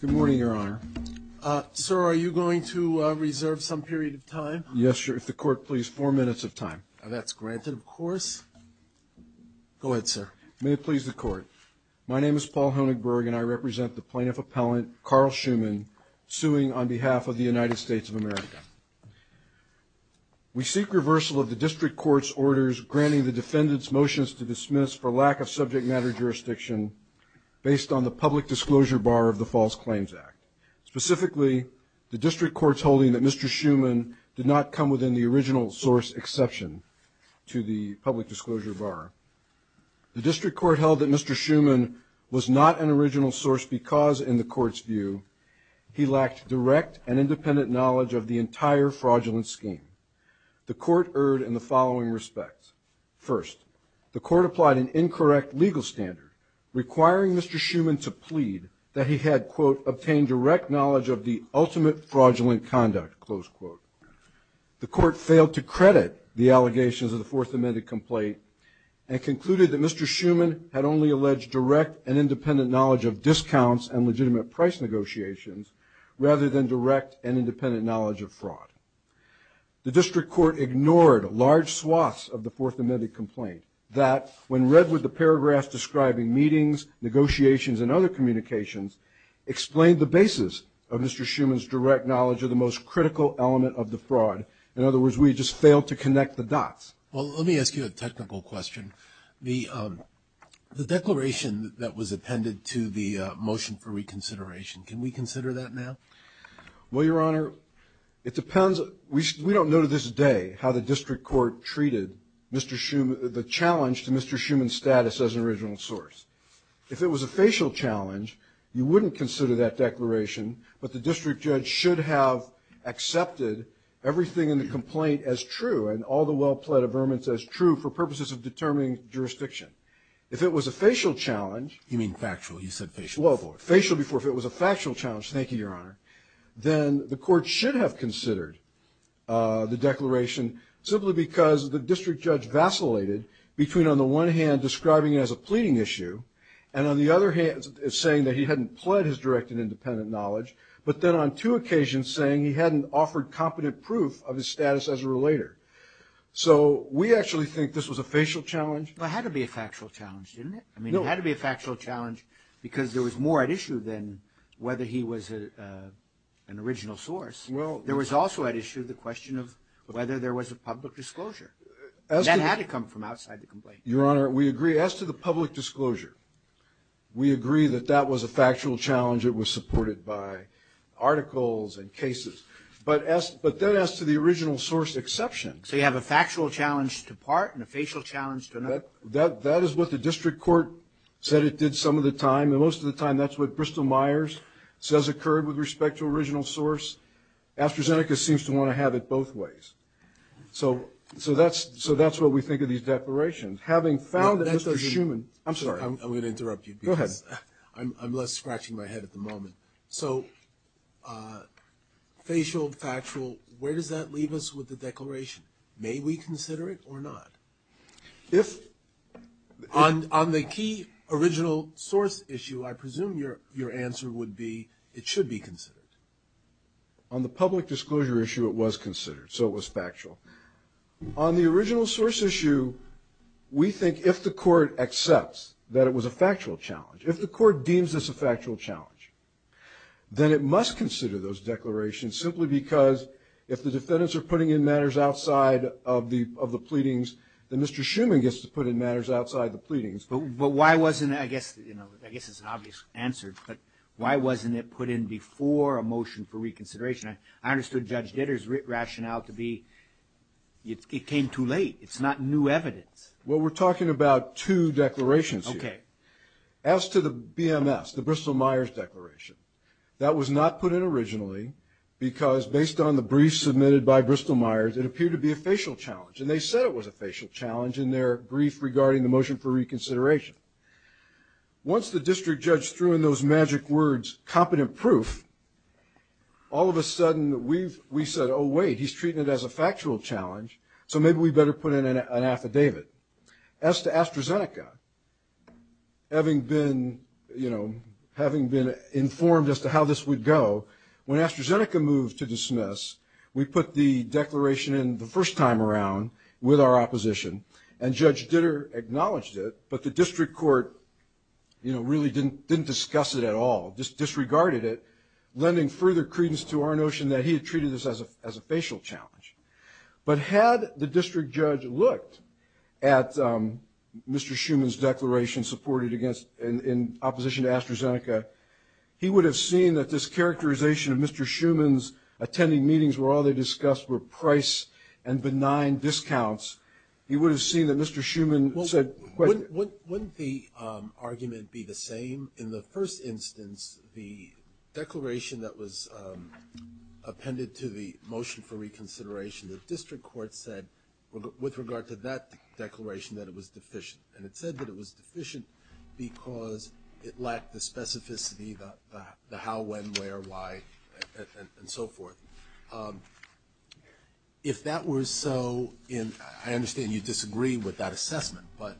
Good morning, Your Honor. Sir, are you going to reserve some period of time? Yes, sir, if the Court pleases, four minutes of time. That's granted, of course. Go ahead, sir. May it please the Court. My name is Paul Honigberg, and I represent the Plaintiff Appellant, Carl Schuman, suing on behalf of the United States of America. We seek reversal of the District Court's orders granting the defendants' motions to dismiss for lack of subject matter jurisdiction based on the public disclosure bar of the False Claims Act. Specifically, the District Court's holding that Mr. Schuman did not come within the original source exception to the public disclosure bar. The District Court held that Mr. Schuman was not an original source because, in the Court's view, he lacked direct and independent knowledge of the entire fraudulent scheme. The Court erred in the following respects. First, the Court applied an incorrect legal standard requiring Mr. Schuman to plead that he had, quote, obtained direct knowledge of the ultimate fraudulent conduct, close quote. The Court failed to credit the allegations of the Fourth Amendment complaint and concluded that Mr. Schuman had only alleged direct and independent knowledge of discounts and legitimate price negotiations rather than direct and independent knowledge of fraud. The District Court ignored large swaths of the Fourth Amendment complaint that, when read with the paragraphs describing meetings, negotiations, and other communications, explained the basis of Mr. Schuman's direct knowledge of the most critical element of the fraud. In other words, we just failed to connect the dots. Well, let me ask you a technical question. The declaration that was appended to the motion for reconsideration, can we consider that now? Well, Your Honor, it depends. We don't know to this day how the District Court treated Mr. Schuman, the challenge to Mr. Schuman's status as an original source. If it was a facial challenge, you wouldn't consider that declaration, but the District Judge should have accepted everything in the complaint as true and all the well-plaid averments as true for purposes of determining jurisdiction. If it was a facial challenge. You mean factual? You said facial before. Facial before. If it was a factual challenge, thank you, Your Honor, then the Court should have considered the declaration, simply because the District Judge vacillated between, on the one hand, describing it as a pleading issue and, on the other hand, saying that he hadn't pled his direct and independent knowledge, but then on two occasions saying he hadn't offered competent proof of his status as a relator. So we actually think this was a facial challenge. But it had to be a factual challenge, didn't it? No. It had to be a factual challenge because there was more at issue than whether he was an original source. There was also at issue the question of whether there was a public disclosure. That had to come from outside the complaint. Your Honor, we agree. As to the public disclosure, we agree that that was a factual challenge. It was supported by articles and cases. But then as to the original source exception. So you have a factual challenge to part and a facial challenge to another. That is what the District Court said it did some of the time, and most of the time that's what Bristol-Myers says occurred with respect to original source. AstraZeneca seems to want to have it both ways. So that's what we think of these declarations. Having found that Mr. Schuman – I'm sorry. I'm going to interrupt you. Go ahead. I'm less scratching my head at the moment. So facial, factual, where does that leave us with the declaration? May we consider it or not? If – On the key original source issue, I presume your answer would be it should be considered. On the public disclosure issue, it was considered. So it was factual. On the original source issue, we think if the Court accepts that it was a factual challenge, if the Court deems this a factual challenge, then it must consider those declarations simply because if the defendants are putting in matters outside of the pleadings, then Mr. Schuman gets to put in matters outside the pleadings. But why wasn't – I guess it's an obvious answer, but why wasn't it put in before a motion for reconsideration? I understood Judge Ditter's rationale to be it came too late. It's not new evidence. Well, we're talking about two declarations here. Okay. As to the BMS, the Bristol-Myers declaration, that was not put in originally because based on the brief submitted by Bristol-Myers, it appeared to be a facial challenge. And they said it was a facial challenge in their brief regarding the motion for reconsideration. Once the district judge threw in those magic words, competent proof, all of a sudden we said, oh, wait, he's treating it as a factual challenge, so maybe we better put in an affidavit. As to AstraZeneca, having been, you know, having been informed as to how this would go, when AstraZeneca moved to dismiss, we put the declaration in the first time around with our opposition, and Judge Ditter acknowledged it, but the district court, you know, really didn't discuss it at all, just disregarded it, lending further credence to our notion that he had treated this as a facial challenge. But had the district judge looked at Mr. Schuman's declaration supported against – he would have seen that this characterization of Mr. Schuman's attending meetings where all they discussed were price and benign discounts. He would have seen that Mr. Schuman said – Wouldn't the argument be the same? In the first instance, the declaration that was appended to the motion for reconsideration, the district court said with regard to that declaration that it was deficient. And it said that it was deficient because it lacked the specificity, the how, when, where, why, and so forth. If that were so in – I understand you disagree with that assessment, but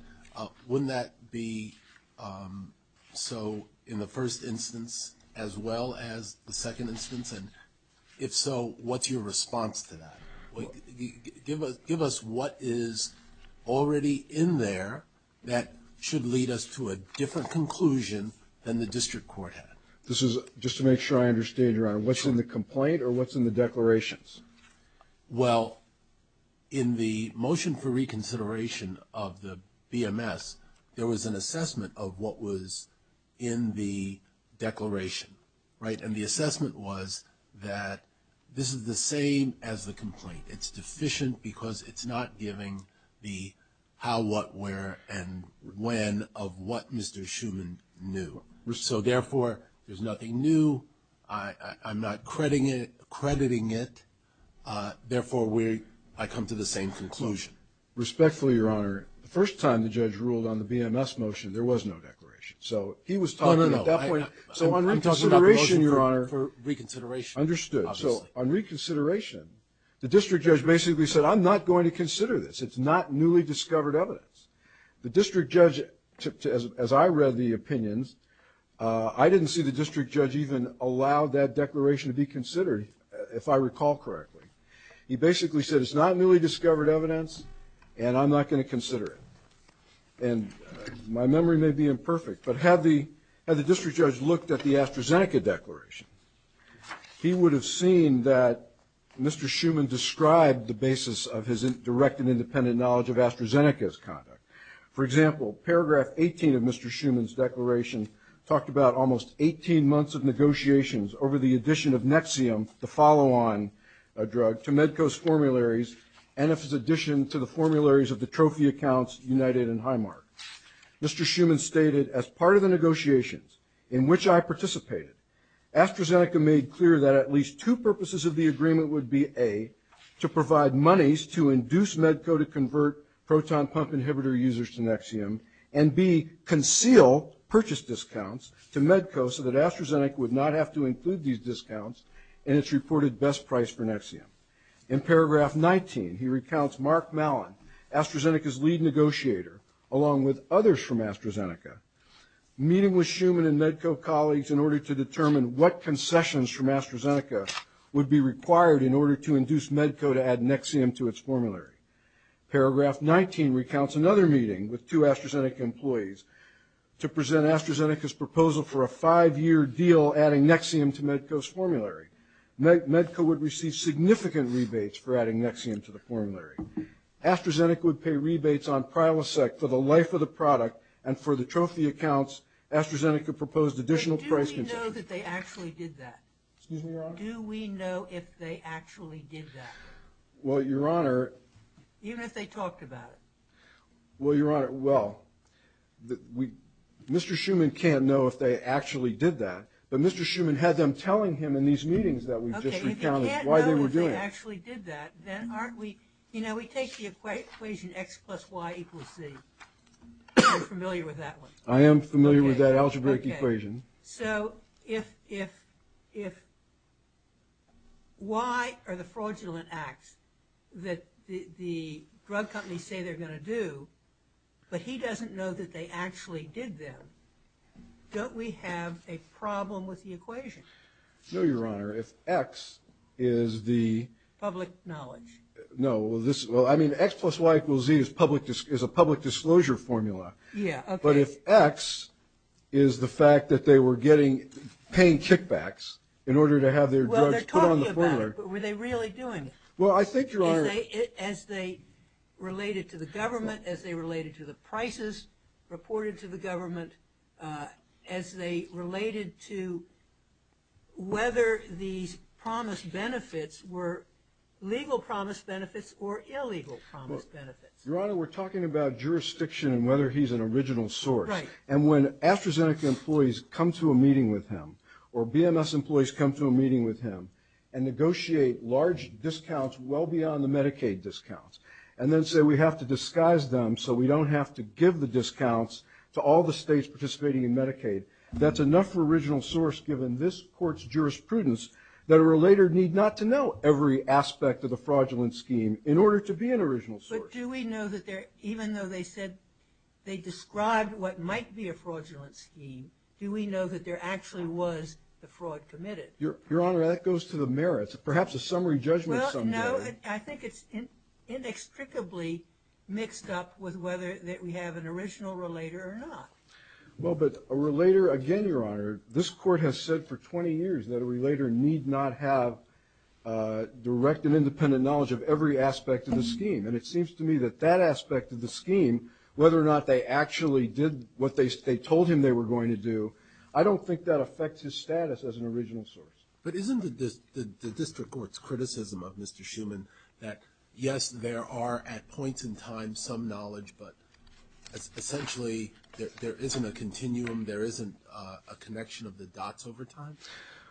wouldn't that be so in the first instance as well as the second instance? And if so, what's your response to that? Give us what is already in there that should lead us to a different conclusion than the district court had. Just to make sure I understand, Your Honor, what's in the complaint or what's in the declarations? Well, in the motion for reconsideration of the BMS, there was an assessment of what was in the declaration, right? And the assessment was that this is the same as the complaint. It's deficient because it's not giving the how, what, where, and when of what Mr. Schuman knew. So therefore, there's nothing new. I'm not crediting it. Therefore, I come to the same conclusion. Respectfully, Your Honor, the first time the judge ruled on the BMS motion, there was no declaration. So he was talking at that point. No, no, no. I'm talking about the motion for reconsideration. Understood. So on reconsideration, the district judge basically said, I'm not going to consider this. It's not newly discovered evidence. The district judge, as I read the opinions, I didn't see the district judge even allow that declaration to be considered, if I recall correctly. He basically said it's not newly discovered evidence and I'm not going to consider it. And my memory may be imperfect, but had the district judge looked at the AstraZeneca declaration, he would have seen that Mr. Schuman described the basis of his direct and independent knowledge of AstraZeneca's conduct. For example, paragraph 18 of Mr. Schuman's declaration talked about almost 18 months of negotiations over the addition of Nexium, the follow-on drug, to Medco's formularies and of his addition to the formularies of the trophy accounts United and Highmark. Mr. Schuman stated, as part of the negotiations in which I participated, AstraZeneca made clear that at least two purposes of the agreement would be, A, to provide monies to induce Medco to convert proton pump inhibitor users to Nexium, and B, conceal purchase discounts to Medco so that AstraZeneca would not have to include these discounts in its reported best price for Nexium. In paragraph 19, he recounts Mark Mallon, AstraZeneca's lead negotiator, along with others from AstraZeneca, meeting with Schuman and Medco colleagues in order to determine what concessions from AstraZeneca would be required in order to induce Medco to add Nexium to its formulary. Paragraph 19 recounts another meeting with two AstraZeneca employees to present AstraZeneca's proposal for a five-year deal adding Nexium to Medco's formulary. Medco would receive significant rebates for adding Nexium to the formulary. AstraZeneca would pay rebates on Prilosec for the life of the product, and for the trophy accounts, AstraZeneca proposed additional price concessions. But do we know that they actually did that? Excuse me, Your Honor? Do we know if they actually did that? Well, Your Honor. Even if they talked about it? Well, Your Honor, well, Mr. Schuman can't know if they actually did that, but Mr. Schuman had them telling him in these meetings that we just recounted why they were doing it. Okay, if you can't know that they actually did that, then aren't we ñ you know, we take the equation X plus Y equals Z. You're familiar with that one. I am familiar with that algebraic equation. Okay, so if Y are the fraudulent acts that the drug companies say they're going to do, but he doesn't know that they actually did them, don't we have a problem with the equation? No, Your Honor. If X is the ñ Public knowledge. No. Well, I mean, X plus Y equals Z is a public disclosure formula. Yeah, okay. But if X is the fact that they were getting paying kickbacks in order to have their drugs put on the formula ñ Well, they're talking about it, but were they really doing it? Well, I think, Your Honor ñ As they related to the government, as they related to the prices reported to the government, as they related to whether these promised benefits were legal promised benefits or illegal promised benefits. Your Honor, we're talking about jurisdiction and whether he's an original source. Right. And when AstraZeneca employees come to a meeting with him or BMS employees come to a meeting with him and negotiate large discounts well beyond the Medicaid discounts, and then say we have to disguise them so we don't have to give the discounts to all the states participating in Medicaid, that's enough for original source given this court's jurisprudence that a relator need not to know every aspect of the fraudulent scheme in order to be an original source. But do we know that they're ñ even though they said they described what might be a fraudulent scheme, do we know that there actually was the fraud committed? Your Honor, that goes to the merits, perhaps a summary judgment some day. Well, no, I think it's inextricably mixed up with whether that we have an original relator or not. Well, but a relator ñ again, Your Honor, this court has said for 20 years that a relator need not have direct and independent knowledge of every aspect of the scheme. And it seems to me that that aspect of the scheme, whether or not they actually did what they told him they were going to do, I don't think that affects his status as an original source. But isn't the district court's criticism of Mr. Schuman that, yes, there are at points in time some knowledge, but essentially there isn't a continuum, there isn't a connection of the dots over time?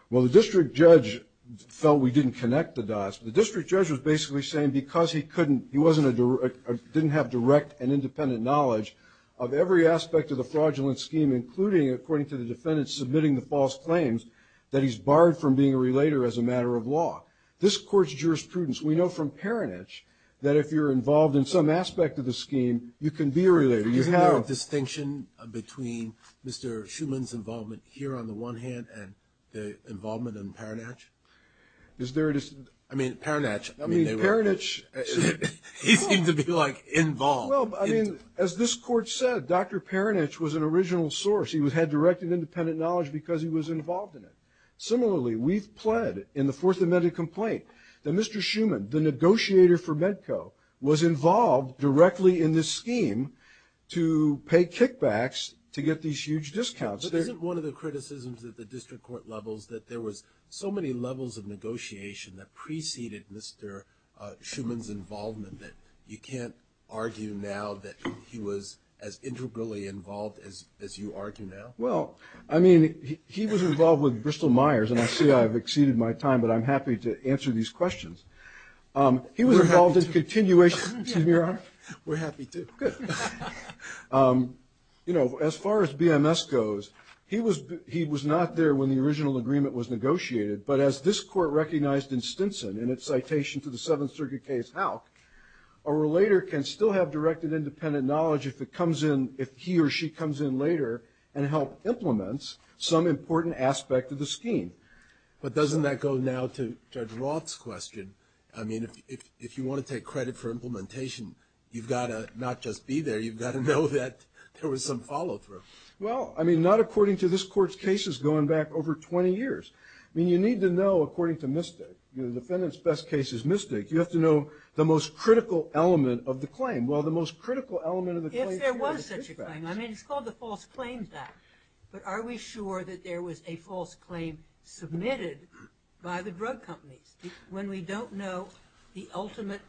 Well, the district judge felt we didn't connect the dots. The district judge was basically saying because he couldn't ñ he wasn't a direct ñ didn't have direct and independent knowledge of every aspect of the fraudulent scheme, including, according to the defendant submitting the false claims, that he's barred from being a relator as a matter of law. This court's jurisprudence, we know from Peronich that if you're involved in some aspect of the scheme, you can be a relator. You have ñ Isn't there a distinction between Mr. Schuman's involvement here on the one hand and the involvement in Peronich? Is there a ñ I mean, Peronich ñ I mean, Peronich ñ He seemed to be, like, involved. Well, I mean, as this court said, Dr. Peronich was an original source. He had direct and independent knowledge because he was involved in it. Similarly, we've pled in the Fourth Amendment complaint that Mr. Schuman, the negotiator for Medco, was involved directly in this scheme to pay kickbacks to get these huge discounts. But isn't one of the criticisms at the district court levels that there was so many levels of negotiation that preceded Mr. Schuman's involvement that you can't argue now that he was as integrally involved as you argue now? Well, I mean, he was involved with Bristol-Myers, and I see I've exceeded my time, but I'm happy to answer these questions. He was involved in continuation ñ We're happy to. Good. You know, as far as BMS goes, he was not there when the original agreement was negotiated. But as this court recognized in Stinson in its citation to the Seventh Circuit case, how a relator can still have direct and independent knowledge if it comes in ñ if he or she comes in later and help implement some important aspect of the scheme. But doesn't that go now to Judge Roth's question? I mean, if you want to take credit for implementation, you've got to not just be there. You've got to know that there was some follow-through. Well, I mean, not according to this court's cases going back over 20 years. I mean, you need to know, according to Mystic, the defendant's best case is Mystic. You have to know the most critical element of the claim. Well, the most critical element of the claim ñ If there was such a claim. I mean, it's called the False Claims Act. But are we sure that there was a false claim submitted by the drug companies? When we don't know the ultimate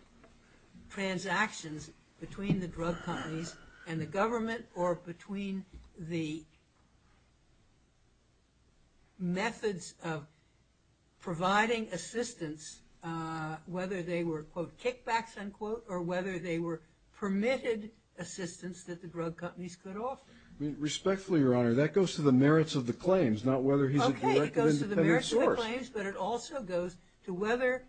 transactions between the drug companies and the government or between the methods of providing assistance, whether they were, quote, kickbacks, unquote, or whether they were permitted assistance that the drug companies could offer. Respectfully, Your Honor, that goes to the merits of the claims, not whether he's a direct and independent source. Okay, it goes to the merits of the claims, but it also goes to whether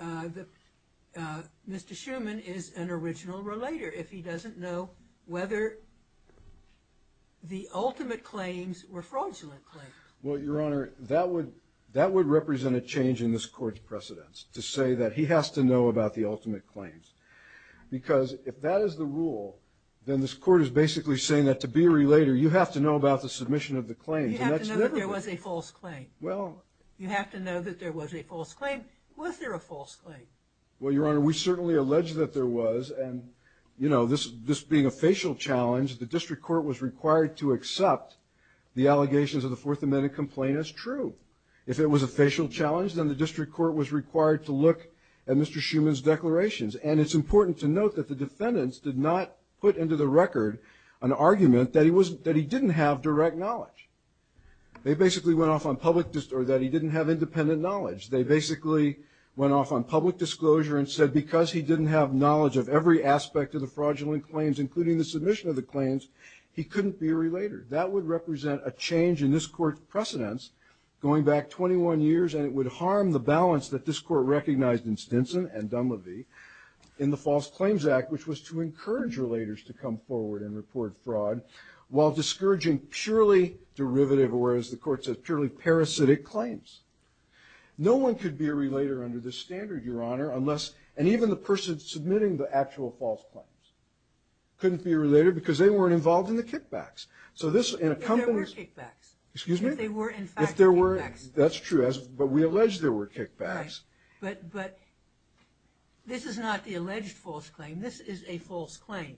Mr. Schuman is an original relator. If he doesn't know whether the ultimate claims were fraudulent claims. Well, Your Honor, that would represent a change in this court's precedence, to say that he has to know about the ultimate claims. Because if that is the rule, then this court is basically saying that to be a relator, you have to know about the submission of the claims. You have to know that there was a false claim. Well. You have to know that there was a false claim. Was there a false claim? Well, Your Honor, we certainly allege that there was. And, you know, this being a facial challenge, the district court was required to accept the allegations of the Fourth Amendment complaint as true. If it was a facial challenge, then the district court was required to look at Mr. Schuman's declarations. And it's important to note that the defendants did not put into the record an argument that he didn't have direct knowledge. They basically went off on public or that he didn't have independent knowledge. They basically went off on public disclosure and said because he didn't have knowledge of every aspect of the fraudulent claims, including the submission of the claims, he couldn't be a relator. That would represent a change in this court's precedence going back 21 years, and it would harm the balance that this court recognized in Stinson and Dunleavy in the False Claims Act, which was to encourage relators to come forward and report fraud, while discouraging purely derivative or, as the court said, purely parasitic claims. No one could be a relator under this standard, Your Honor, unless – and even the person submitting the actual false claims couldn't be a relator because they weren't involved in the kickbacks. So this – If there were kickbacks. If there were, in fact, kickbacks. That's true, but we allege there were kickbacks. Right, but this is not the alleged false claim. This is a false claim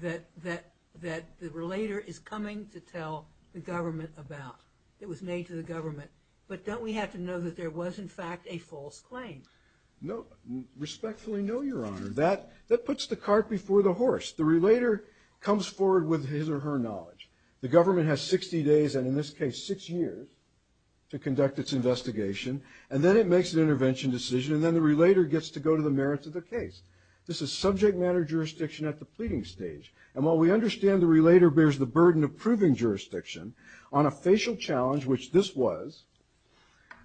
that the relator is coming to tell the government about. It was made to the government. But don't we have to know that there was, in fact, a false claim? No. Respectfully, no, Your Honor. That puts the cart before the horse. The relator comes forward with his or her knowledge. The government has 60 days, and in this case six years, to conduct its investigation, and then it makes an intervention decision, and then the relator gets to go to the merits of the case. This is subject matter jurisdiction at the pleading stage, and while we understand the relator bears the burden of proving jurisdiction on a facial challenge, which this was,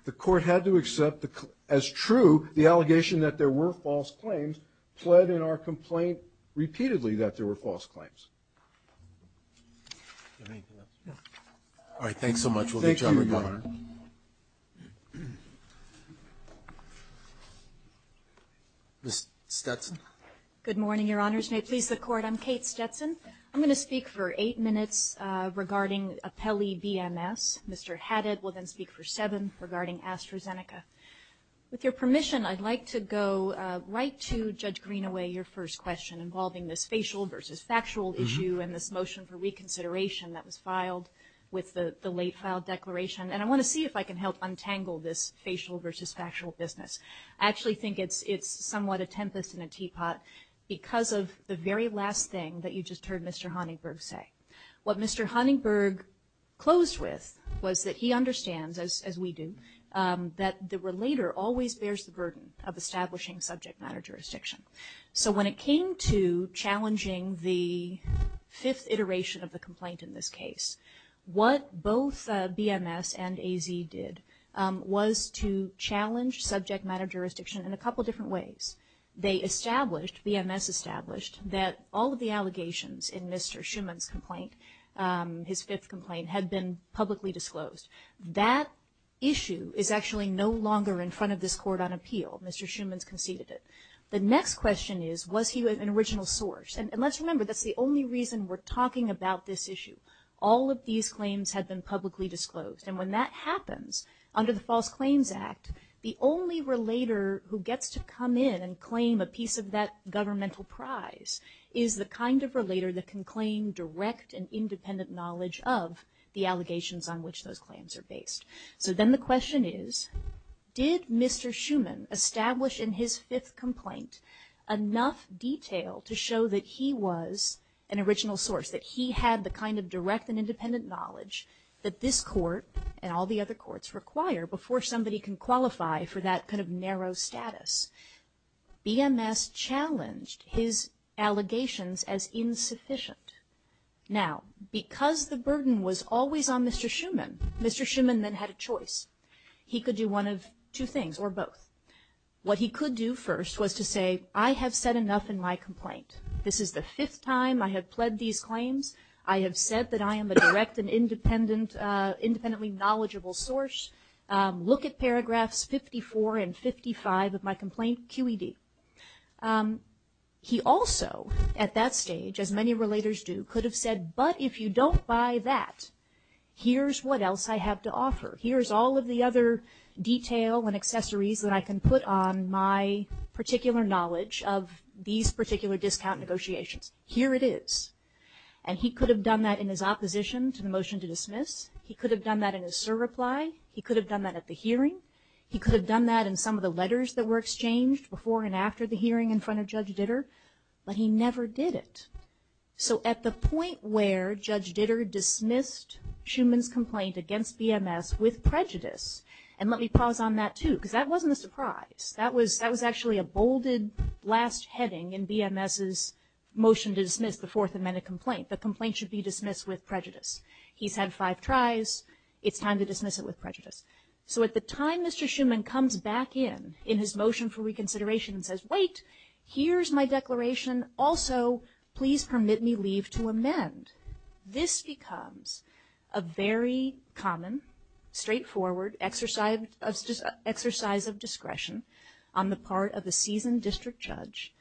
the court had to accept as true the allegation that there were false claims pled in our complaint repeatedly that there were false claims. All right, thanks so much. Thank you. Ms. Stetson. Good morning, Your Honors. May it please the Court. I'm Kate Stetson. I'm going to speak for eight minutes regarding Apelli BMS. Mr. Haddad will then speak for seven regarding AstraZeneca. With your permission, I'd like to go right to Judge Greenaway, your first question, involving this facial versus factual issue and this motion for reconsideration that was filed with the late filed declaration, and I want to see if I can help untangle this facial versus factual business. I actually think it's somewhat a tempest in a teapot because of the very last thing that you just heard Mr. Honeyberg say. What Mr. Honeyberg closed with was that he understands, as we do, that the relator always bears the burden of establishing subject matter jurisdiction. So when it came to challenging the fifth iteration of the complaint in this case, what both BMS and AZ did was to challenge subject matter jurisdiction in a couple different ways. They established, BMS established, that all of the allegations in Mr. Schuman's complaint, his fifth complaint, had been publicly disclosed. That issue is actually no longer in front of this Court on appeal. Mr. Schuman's conceded it. The next question is, was he an original source? And let's remember, that's the only reason we're talking about this issue. All of these claims had been publicly disclosed. And when that happens, under the False Claims Act, the only relator who gets to come in and claim a piece of that governmental prize is the kind of relator that can claim direct and independent knowledge of the allegations on which those claims are based. So then the question is, did Mr. Schuman establish in his fifth complaint enough detail to show that he was an original source, that he had the kind of direct and independent knowledge that this Court and all the other courts require before somebody can qualify for that kind of narrow status? BMS challenged his allegations as insufficient. Now, because the burden was always on Mr. Schuman, Mr. Schuman then had a choice. He could do one of two things, or both. What he could do first was to say, I have said enough in my complaint. This is the fifth time I have pled these claims. I have said that I am a direct and independently knowledgeable source. Look at paragraphs 54 and 55 of my complaint QED. He also, at that stage, as many relators do, could have said, but if you don't buy that, here's what else I have to offer. Here's all of the other detail and accessories that I can put on my particular knowledge of these particular discount negotiations. Here it is. And he could have done that in his opposition to the motion to dismiss. He could have done that in his surreply. He could have done that at the hearing. He could have done that in some of the letters that were exchanged before and after the hearing in front of Judge Ditter. But he never did it. So at the point where Judge Ditter dismissed Schumann's complaint against BMS with prejudice, and let me pause on that, too, because that wasn't a surprise. That was actually a bolded last heading in BMS's motion to dismiss the Fourth Amendment complaint. The complaint should be dismissed with prejudice. He's had five tries. It's time to dismiss it with prejudice. So at the time Mr. Schumann comes back in, in his motion for reconsideration, and says, wait, here's my declaration. Also, please permit me leave to amend. This becomes a very common, straightforward exercise of discretion on the part of a seasoned district judge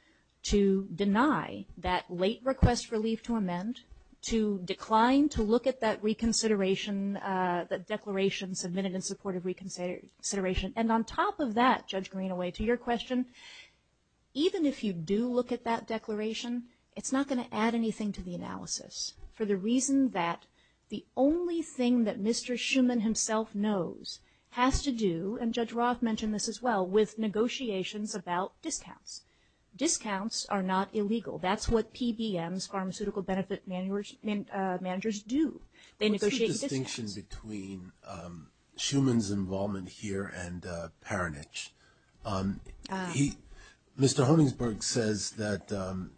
to deny that late request for leave to amend, to decline to look at that reconsideration, that declaration submitted in support of reconsideration. And on top of that, Judge Greenaway, to your question, even if you do look at that declaration, it's not going to add anything to the analysis for the reason that the only thing that Mr. Schumann himself knows has to do, and Judge Roth mentioned this as well, with negotiations about discounts. Discounts are not illegal. That's what PBM's pharmaceutical benefit managers do. They negotiate discounts. What's the distinction between Schumann's involvement here and Peronich? Mr. Honigsberg says that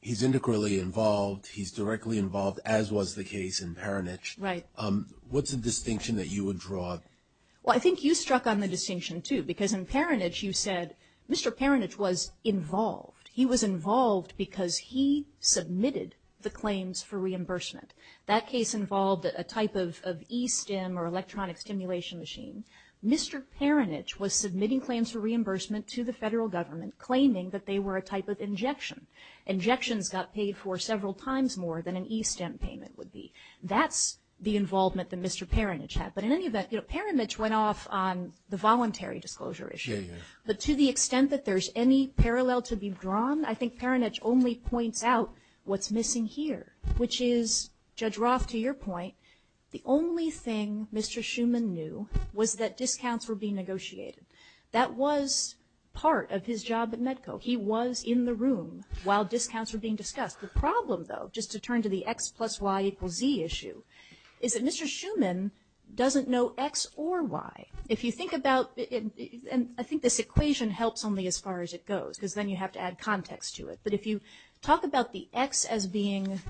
he's integrally involved, he's directly involved, as was the case in Peronich. Right. What's the distinction that you would draw? Well, I think you struck on the distinction, too, because in Peronich you said Mr. Peronich was involved. He was involved because he submitted the claims for reimbursement. That case involved a type of e-STEM or electronic stimulation machine. Mr. Peronich was submitting claims for reimbursement to the federal government, claiming that they were a type of injection. Injections got paid for several times more than an e-STEM payment would be. That's the involvement that Mr. Peronich had. But in any event, Peronich went off on the voluntary disclosure issue. But to the extent that there's any parallel to be drawn, I think Peronich only points out what's missing here, which is, Judge Roth, to your point, the only thing Mr. Schuman knew was that discounts were being negotiated. That was part of his job at MEDCO. He was in the room while discounts were being discussed. The problem, though, just to turn to the X plus Y equals Z issue, is that Mr. Schuman doesn't know X or Y. If you think about it, and I think this equation helps only as far as it goes, because then you have to add context to it. But if you talk about the X as being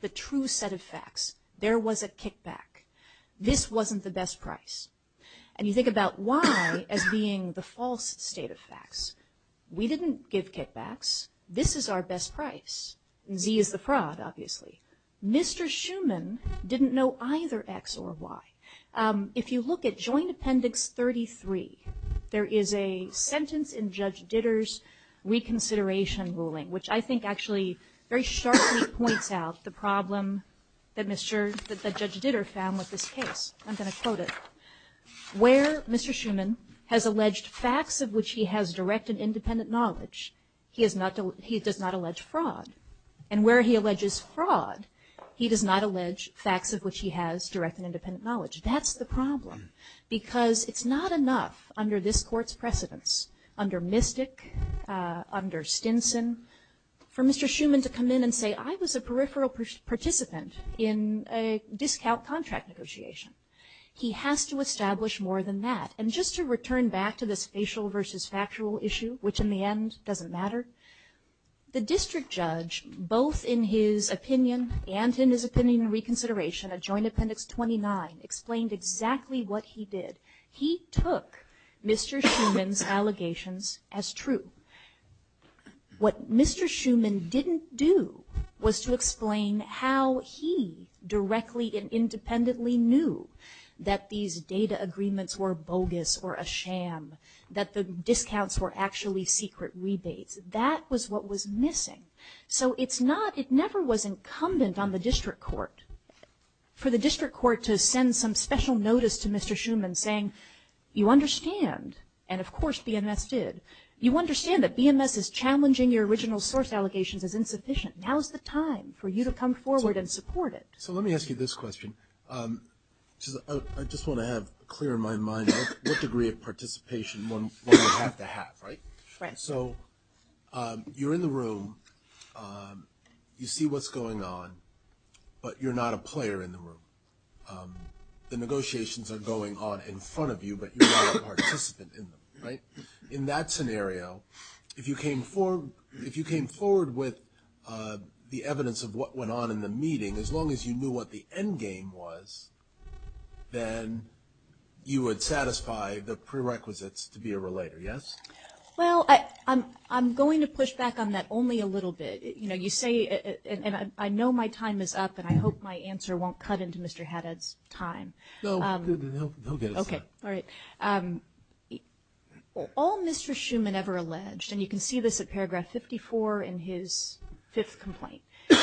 the true set of facts, there was a kickback. This wasn't the best price. And you think about Y as being the false state of facts. We didn't give kickbacks. This is our best price. Z is the fraud, obviously. Mr. Schuman didn't know either X or Y. If you look at Joint Appendix 33, there is a sentence in Judge Ditter's reconsideration ruling, which I think actually very sharply points out the problem that Judge Ditter found with this case. I'm going to quote it. Where Mr. Schuman has alleged facts of which he has direct and independent knowledge, he does not allege fraud. And where he alleges fraud, he does not allege facts of which he has direct and independent knowledge. That's the problem, because it's not enough under this Court's precedence, under Mystic, under Stinson, for Mr. Schuman to come in and say, I was a peripheral participant in a discount contract negotiation. He has to establish more than that. And just to return back to this facial versus factual issue, which in the end doesn't matter, the district judge, both in his opinion and in his opinion reconsideration, at Joint Appendix 29, explained exactly what he did. He took Mr. Schuman's allegations as true. What Mr. Schuman didn't do was to explain how he directly and independently knew that these data agreements were bogus or a sham, that the discounts were actually secret rebates. That was what was missing. So it's not, it never was incumbent on the district court, for the district court to send some special notice to Mr. Schuman saying, you understand, and of course BMS did, you understand that BMS is challenging your original source allegations as insufficient. Now is the time for you to come forward and support it. So let me ask you this question. I just want to have clear in my mind what degree of participation one would have to have, right? Right. So you're in the room, you see what's going on, but you're not a player in the room. The negotiations are going on in front of you, but you're not a participant in them, right? In that scenario, if you came forward with the evidence of what went on in the meeting, as long as you knew what the end game was, then you would satisfy the prerequisites to be a relator, yes? Well, I'm going to push back on that only a little bit. You know, you say, and I know my time is up, and I hope my answer won't cut into Mr. Haddad's time. No, he'll get his time. Okay, all right. All Mr. Schuman ever alleged, and you can see this at paragraph 54 in his fifth complaint,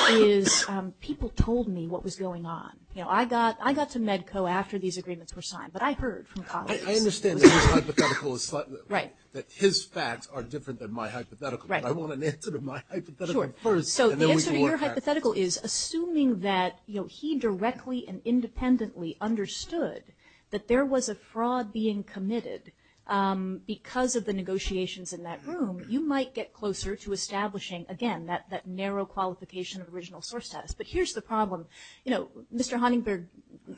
is people told me what was going on. You know, I got to MEDCO after these agreements were signed, but I heard from colleagues. I understand that his hypothetical is slightly different. Right. That his facts are different than my hypothetical. Right. But I want an answer to my hypothetical first. Sure. So the answer to your hypothetical is, assuming that, you know, he directly and independently understood that there was a fraud being committed because of the negotiations in that room, you might get closer to establishing, again, that narrow qualification of original source status. But here's the problem. You know, Mr. Honeyberg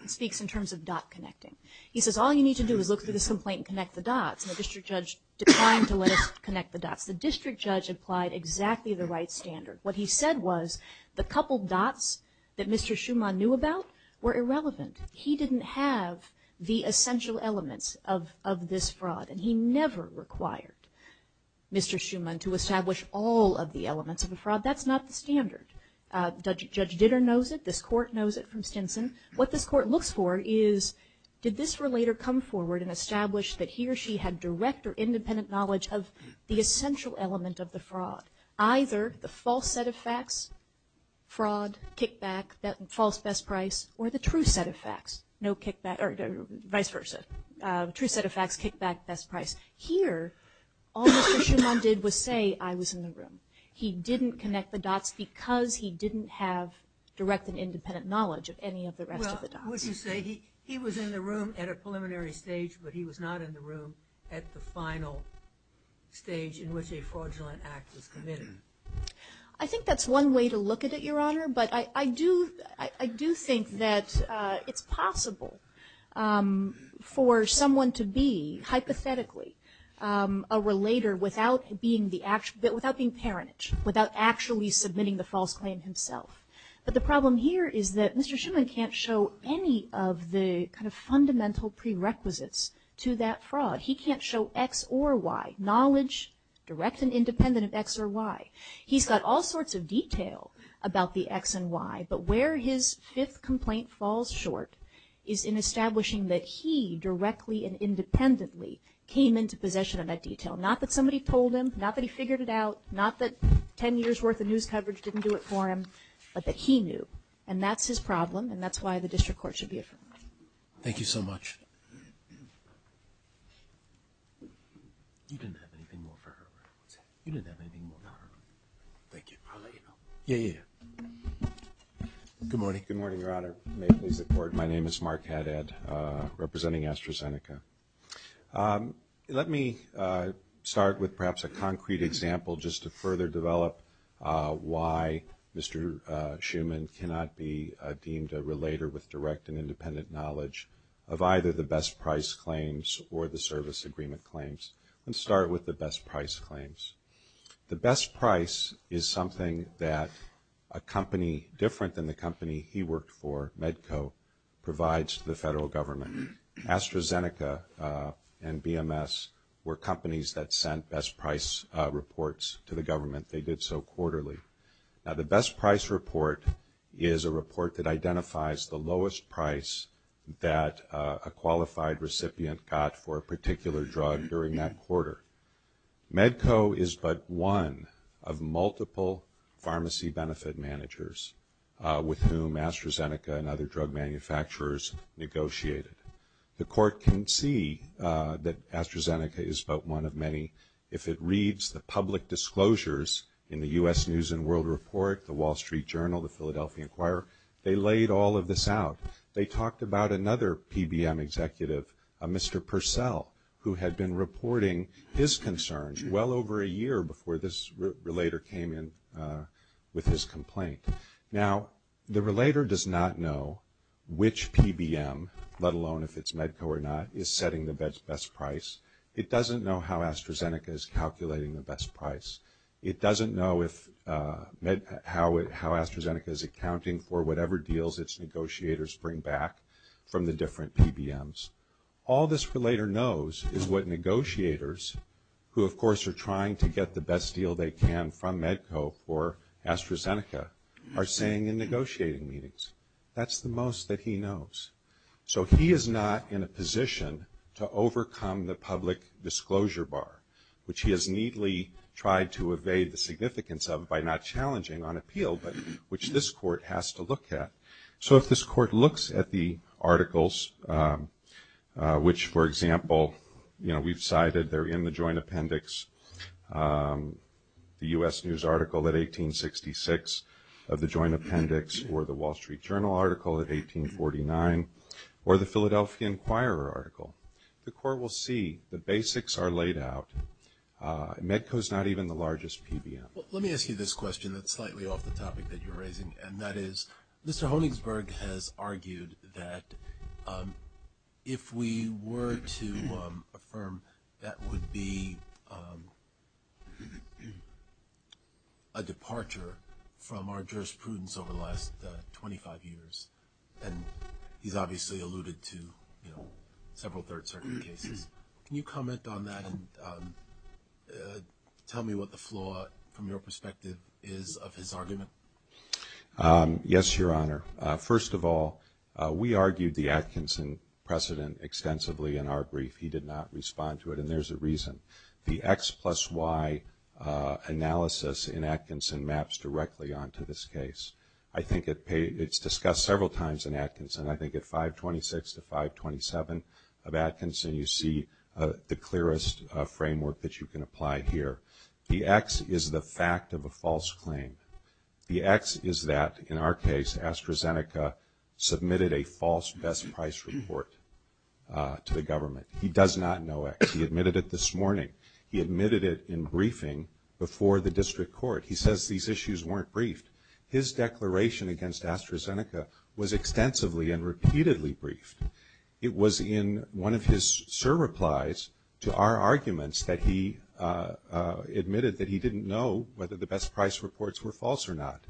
speaks in terms of dot connecting. He says, all you need to do is look through this complaint and connect the dots, and the district judge declined to let us connect the dots. The district judge applied exactly the right standard. What he said was the coupled dots that Mr. Schuman knew about were irrelevant. He didn't have the essential elements of this fraud, and he never required Mr. Schuman to establish all of the elements of a fraud. That's not the standard. Judge Ditter knows it. This court knows it from Stinson. What this court looks for is, did this relator come forward and establish that he or she had direct or independent knowledge of the essential element of the fraud, either the false set of facts, fraud, kickback, false best price, or the true set of facts, no kickback, or vice versa, true set of facts, kickback, best price. Here, all Mr. Schuman did was say, I was in the room. He didn't connect the dots because he didn't have direct and independent knowledge of any of the rest of the dots. Well, would you say he was in the room at a preliminary stage, but he was not in the room at the final stage in which a fraudulent act was committed? I think that's one way to look at it, Your Honor. But I do think that it's possible for someone to be, hypothetically, a relator without being parentage, without actually submitting the false claim himself. But the problem here is that Mr. Schuman can't show any of the kind of fundamental prerequisites to that fraud. He can't show X or Y, knowledge, direct and independent of X or Y. He's got all sorts of detail about the X and Y, but where his fifth complaint falls short is in establishing that he directly and independently came into possession of that detail. Not that somebody told him, not that he figured it out, not that 10 years' worth of news coverage didn't do it for him, but that he knew. And that's his problem, and that's why the district court should be affirmed. Thank you so much. You didn't have anything more for her. You didn't have anything more for her. Thank you. I'll let you know. Yeah, yeah, yeah. Good morning. Good morning, Your Honor. May it please the Court. My name is Mark Haddad, representing AstraZeneca. Let me start with perhaps a concrete example just to further develop why Mr. Schuman cannot be deemed a relator with direct and independent knowledge of either the best price claims or the service agreement claims. Let's start with the best price claims. The best price is something that a company different than the company he worked for, Medco, provides to the federal government. AstraZeneca and BMS were companies that sent best price reports to the government. They did so quarterly. Now, the best price report is a report that identifies the lowest price that a qualified recipient got for a particular drug during that quarter. Medco is but one of multiple pharmacy benefit managers with whom AstraZeneca and other drug manufacturers negotiated. The Court can see that AstraZeneca is but one of many if it reads the public disclosures in the U.S. News and World Report, the Wall Street Journal, the Philadelphia Inquirer. They laid all of this out. They talked about another PBM executive, a Mr. Purcell, who had been reporting his concerns well over a year before this relator came in with his complaint. Now, the relator does not know which PBM, let alone if it's Medco or not, is setting the best price. It doesn't know how AstraZeneca is calculating the best price. It doesn't know how AstraZeneca is accounting for whatever deals its negotiators bring back from the different PBMs. All this relator knows is what negotiators, who of course are trying to get the best deal they can from Medco for AstraZeneca, are saying in negotiating meetings. That's the most that he knows. So he is not in a position to overcome the public disclosure bar, which he has neatly tried to evade the significance of by not challenging on appeal, but which this court has to look at. So if this court looks at the articles, which, for example, we've cited, they're in the joint appendix, the U.S. News article at 1866 of the joint appendix, or the Wall Street Journal article at 1849, or the Philadelphia Inquirer article, the court will see the basics are laid out. Medco is not even the largest PBM. Well, let me ask you this question that's slightly off the topic that you're raising, and that is Mr. Honigsberg has argued that if we were to affirm that would be a departure from our jurisprudence over the last 25 years, and he's obviously alluded to several third-circuit cases. Can you comment on that and tell me what the flaw, from your perspective, is of his argument? Yes, Your Honor. First of all, we argued the Atkinson precedent extensively in our brief. He did not respond to it, and there's a reason. The X plus Y analysis in Atkinson maps directly onto this case. I think it's discussed several times in Atkinson. I think at 526 to 527 of Atkinson, you see the clearest framework that you can apply here. The X is the fact of a false claim. The X is that, in our case, AstraZeneca submitted a false best price report to the government. He does not know X. He admitted it this morning. He admitted it in briefing before the district court. He says these issues weren't briefed. His declaration against AstraZeneca was extensively and repeatedly briefed. It was in one of his surreplies to our arguments that he admitted that he didn't know whether the best price reports were false or not,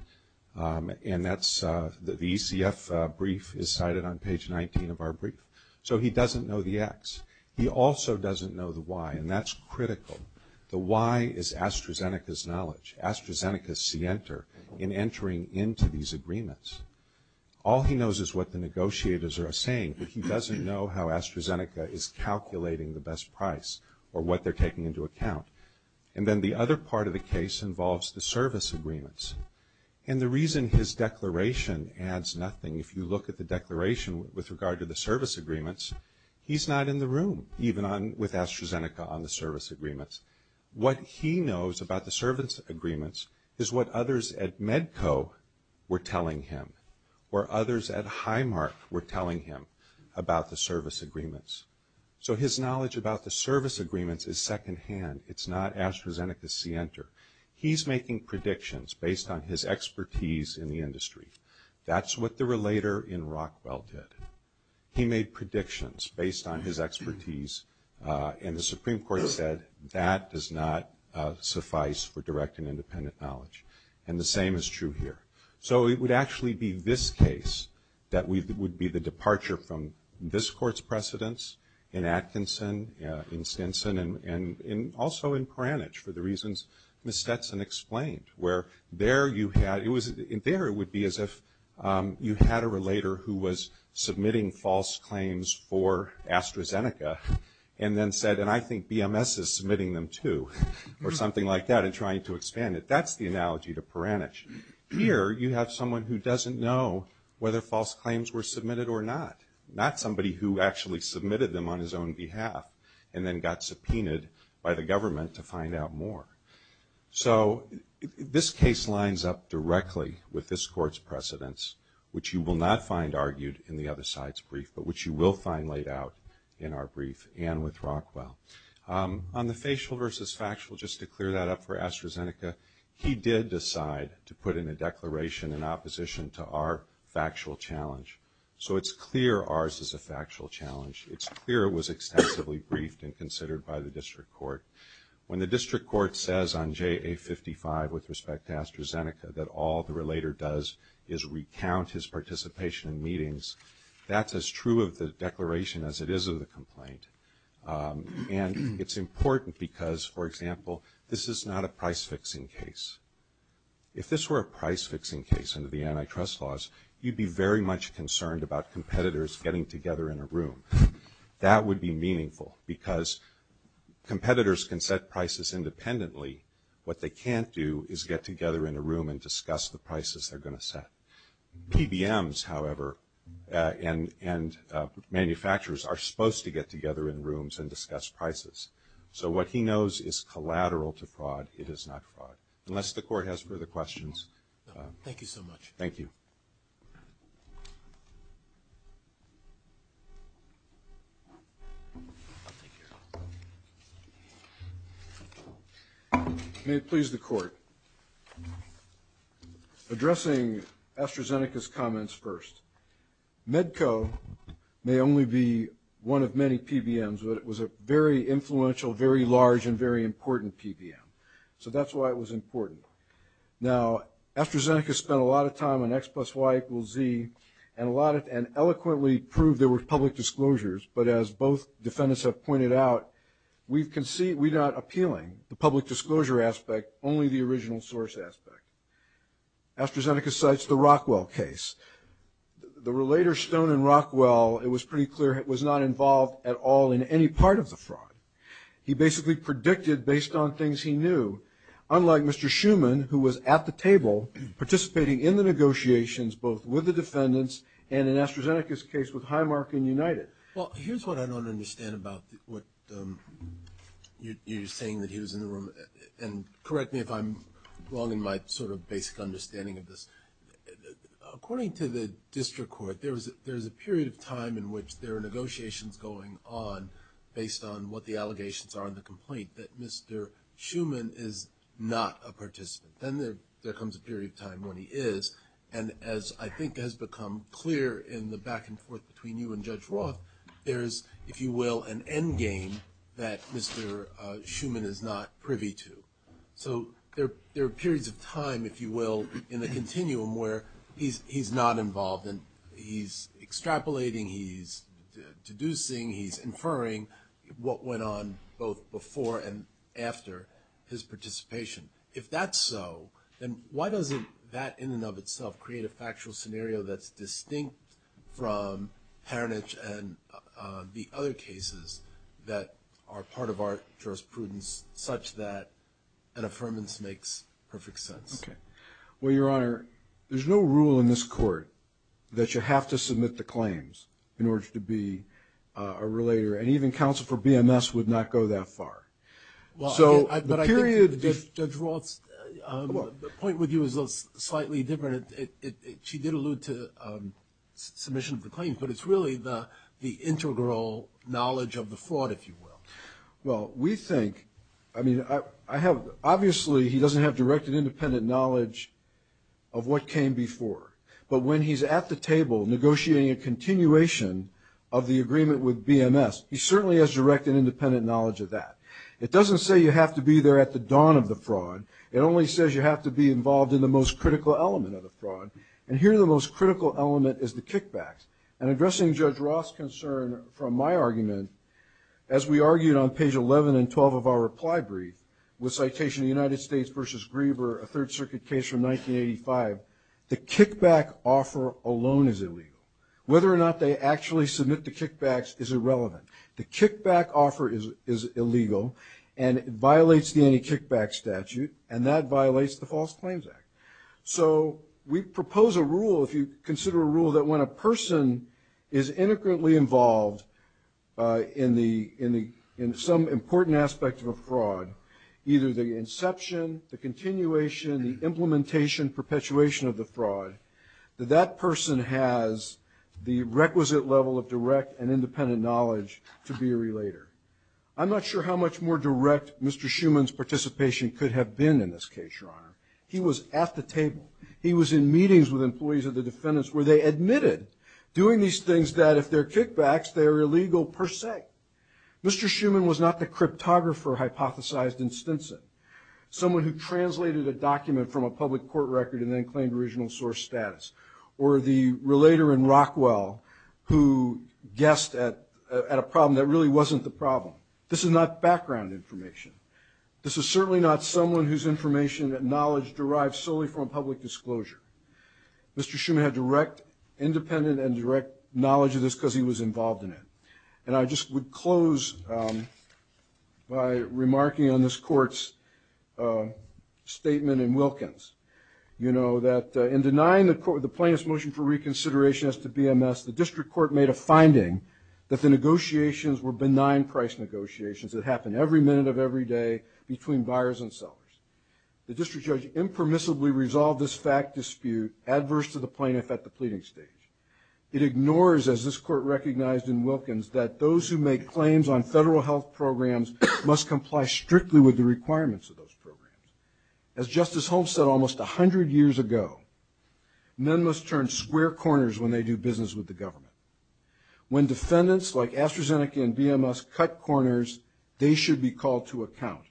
and the ECF brief is cited on page 19 of our brief. So he doesn't know the X. He also doesn't know the Y, and that's critical. The Y is AstraZeneca's knowledge, AstraZeneca's scienter in entering into these agreements. All he knows is what the negotiators are saying, but he doesn't know how AstraZeneca is calculating the best price or what they're taking into account. And then the other part of the case involves the service agreements, and the reason his declaration adds nothing, if you look at the declaration with regard to the service agreements, he's not in the room, even with AstraZeneca on the service agreements. What he knows about the service agreements is what others at Medco were telling him, or others at Highmark were telling him about the service agreements. So his knowledge about the service agreements is secondhand. It's not AstraZeneca's scienter. He's making predictions based on his expertise in the industry. That's what the relator in Rockwell did. He made predictions based on his expertise, and the Supreme Court said that does not suffice for direct and independent knowledge. And the same is true here. So it would actually be this case that would be the departure from this Court's precedence in Atkinson, in Stinson, and also in Pranich for the reasons Ms. Stetson explained, where there it would be as if you had a relator who was submitting false claims for AstraZeneca, and then said, and I think BMS is submitting them too, or something like that, and trying to expand it. That's the analogy to Pranich. Here you have someone who doesn't know whether false claims were submitted or not, not somebody who actually submitted them on his own behalf, and then got subpoenaed by the government to find out more. So this case lines up directly with this Court's precedence, which you will not find argued in the other side's brief, but which you will find laid out in our brief and with Rockwell. On the facial versus factual, just to clear that up for AstraZeneca, he did decide to put in a declaration in opposition to our factual challenge. So it's clear ours is a factual challenge. It's clear it was extensively briefed and considered by the District Court. When the District Court says on JA55 with respect to AstraZeneca that all the relator does is recount his participation in meetings, that's as true of the declaration as it is of the complaint. And it's important because, for example, this is not a price-fixing case. If this were a price-fixing case under the antitrust laws, you'd be very much concerned about competitors getting together in a room. That would be meaningful because competitors can set prices independently. What they can't do is get together in a room and discuss the prices they're going to set. PBMs, however, and manufacturers are supposed to get together in rooms and discuss prices. So what he knows is collateral to fraud. It is not fraud. Unless the Court has further questions. Thank you so much. Thank you. I'll take care of it. May it please the Court. Addressing AstraZeneca's comments first. Medco may only be one of many PBMs, but it was a very influential, very large, and very important PBM. So that's why it was important. Now, AstraZeneca spent a lot of time on X plus Y equals Z and eloquently proved there were public disclosures. But as both defendants have pointed out, we're not appealing the public disclosure aspect, only the original source aspect. AstraZeneca cites the Rockwell case. The relator Stone and Rockwell, it was pretty clear, was not involved at all in any part of the fraud. He basically predicted based on things he knew. Unlike Mr. Schuman, who was at the table, participating in the negotiations both with the defendants and in AstraZeneca's case with Highmark and United. Well, here's what I don't understand about what you're saying that he was in the room. And correct me if I'm wrong in my sort of basic understanding of this. According to the district court, there's a period of time in which there are negotiations going on based on what the allegations are in the complaint, that Mr. Schuman is not a participant. Then there comes a period of time when he is. And as I think has become clear in the back and forth between you and Judge Roth, there is, if you will, an endgame that Mr. Schuman is not privy to. So there are periods of time, if you will, in the continuum where he's not involved and he's extrapolating, he's deducing, he's inferring what went on both before and after his participation. If that's so, then why doesn't that, in and of itself, create a factual scenario that's distinct from Paranich and the other cases that are part of our jurisprudence such that an affirmance makes perfect sense? Well, Your Honor, there's no rule in this court that you have to submit the claims in order to be a relator. And even counsel for BMS would not go that far. But I think, Judge Roth, the point with you is slightly different. She did allude to submission of the claims, but it's really the integral knowledge of the fraud, if you will. Well, we think, I mean, I have, obviously he doesn't have direct and independent knowledge of what came before. But when he's at the table negotiating a continuation of the agreement with BMS, he certainly has direct and independent knowledge of that. It doesn't say you have to be there at the dawn of the fraud. It only says you have to be involved in the most critical element of the fraud. And here the most critical element is the kickbacks. And addressing Judge Roth's concern from my argument, as we argued on page 11 and 12 of our reply brief, with citation of the United States v. Grieber, a Third Circuit case from 1985, the kickback offer alone is illegal. Whether or not they actually submit the kickbacks is irrelevant. The kickback offer is illegal, and it violates the anti-kickback statute, and that violates the False Claims Act. So we propose a rule, if you consider a rule, that when a person is integrally involved in some important aspect of a fraud, either the inception, the continuation, the implementation, the perpetuation of the fraud, that that person has the requisite level of direct and independent knowledge to be a relator. I'm not sure how much more direct Mr. Schuman's participation could have been in this case, Your Honor. He was at the table. He was in meetings with employees of the defendants where they admitted doing these things that if they're kickbacks, they're illegal per se. Mr. Schuman was not the cryptographer hypothesized in Stinson. Someone who translated a document from a public court record and then claimed original source status. Or the relator in Rockwell who guessed at a problem that really wasn't the problem. This is not background information. This is certainly not someone whose information and knowledge derives solely from public disclosure. Mr. Schuman had direct independent and direct knowledge of this because he was involved in it. And I just would close by remarking on this court's statement in Wilkins. You know that in denying the plaintiff's motion for reconsideration as to BMS, the district court made a finding that the negotiations were benign price negotiations that happened every minute of every day between buyers and sellers. The district judge impermissibly resolved this fact dispute adverse to the plaintiff at the pleading stage. It ignores, as this court recognized in Wilkins, that those who make claims on federal health programs must comply strictly with the requirements of those programs. As Justice Holmes said almost 100 years ago, men must turn square corners when they do business with the government. When defendants like AstraZeneca and BMS cut corners, they should be called to account.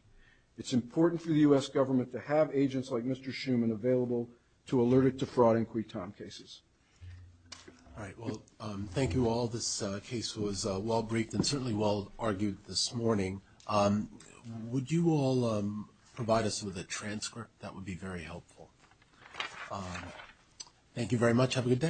It's important for the U.S. government to have agents like Mr. Schuman available to alert it to fraud and quitom cases. All right. Well, thank you all. This case was well-briefed and certainly well-argued this morning. Would you all provide us with a transcript? That would be very helpful. Thank you very much. Have a good day.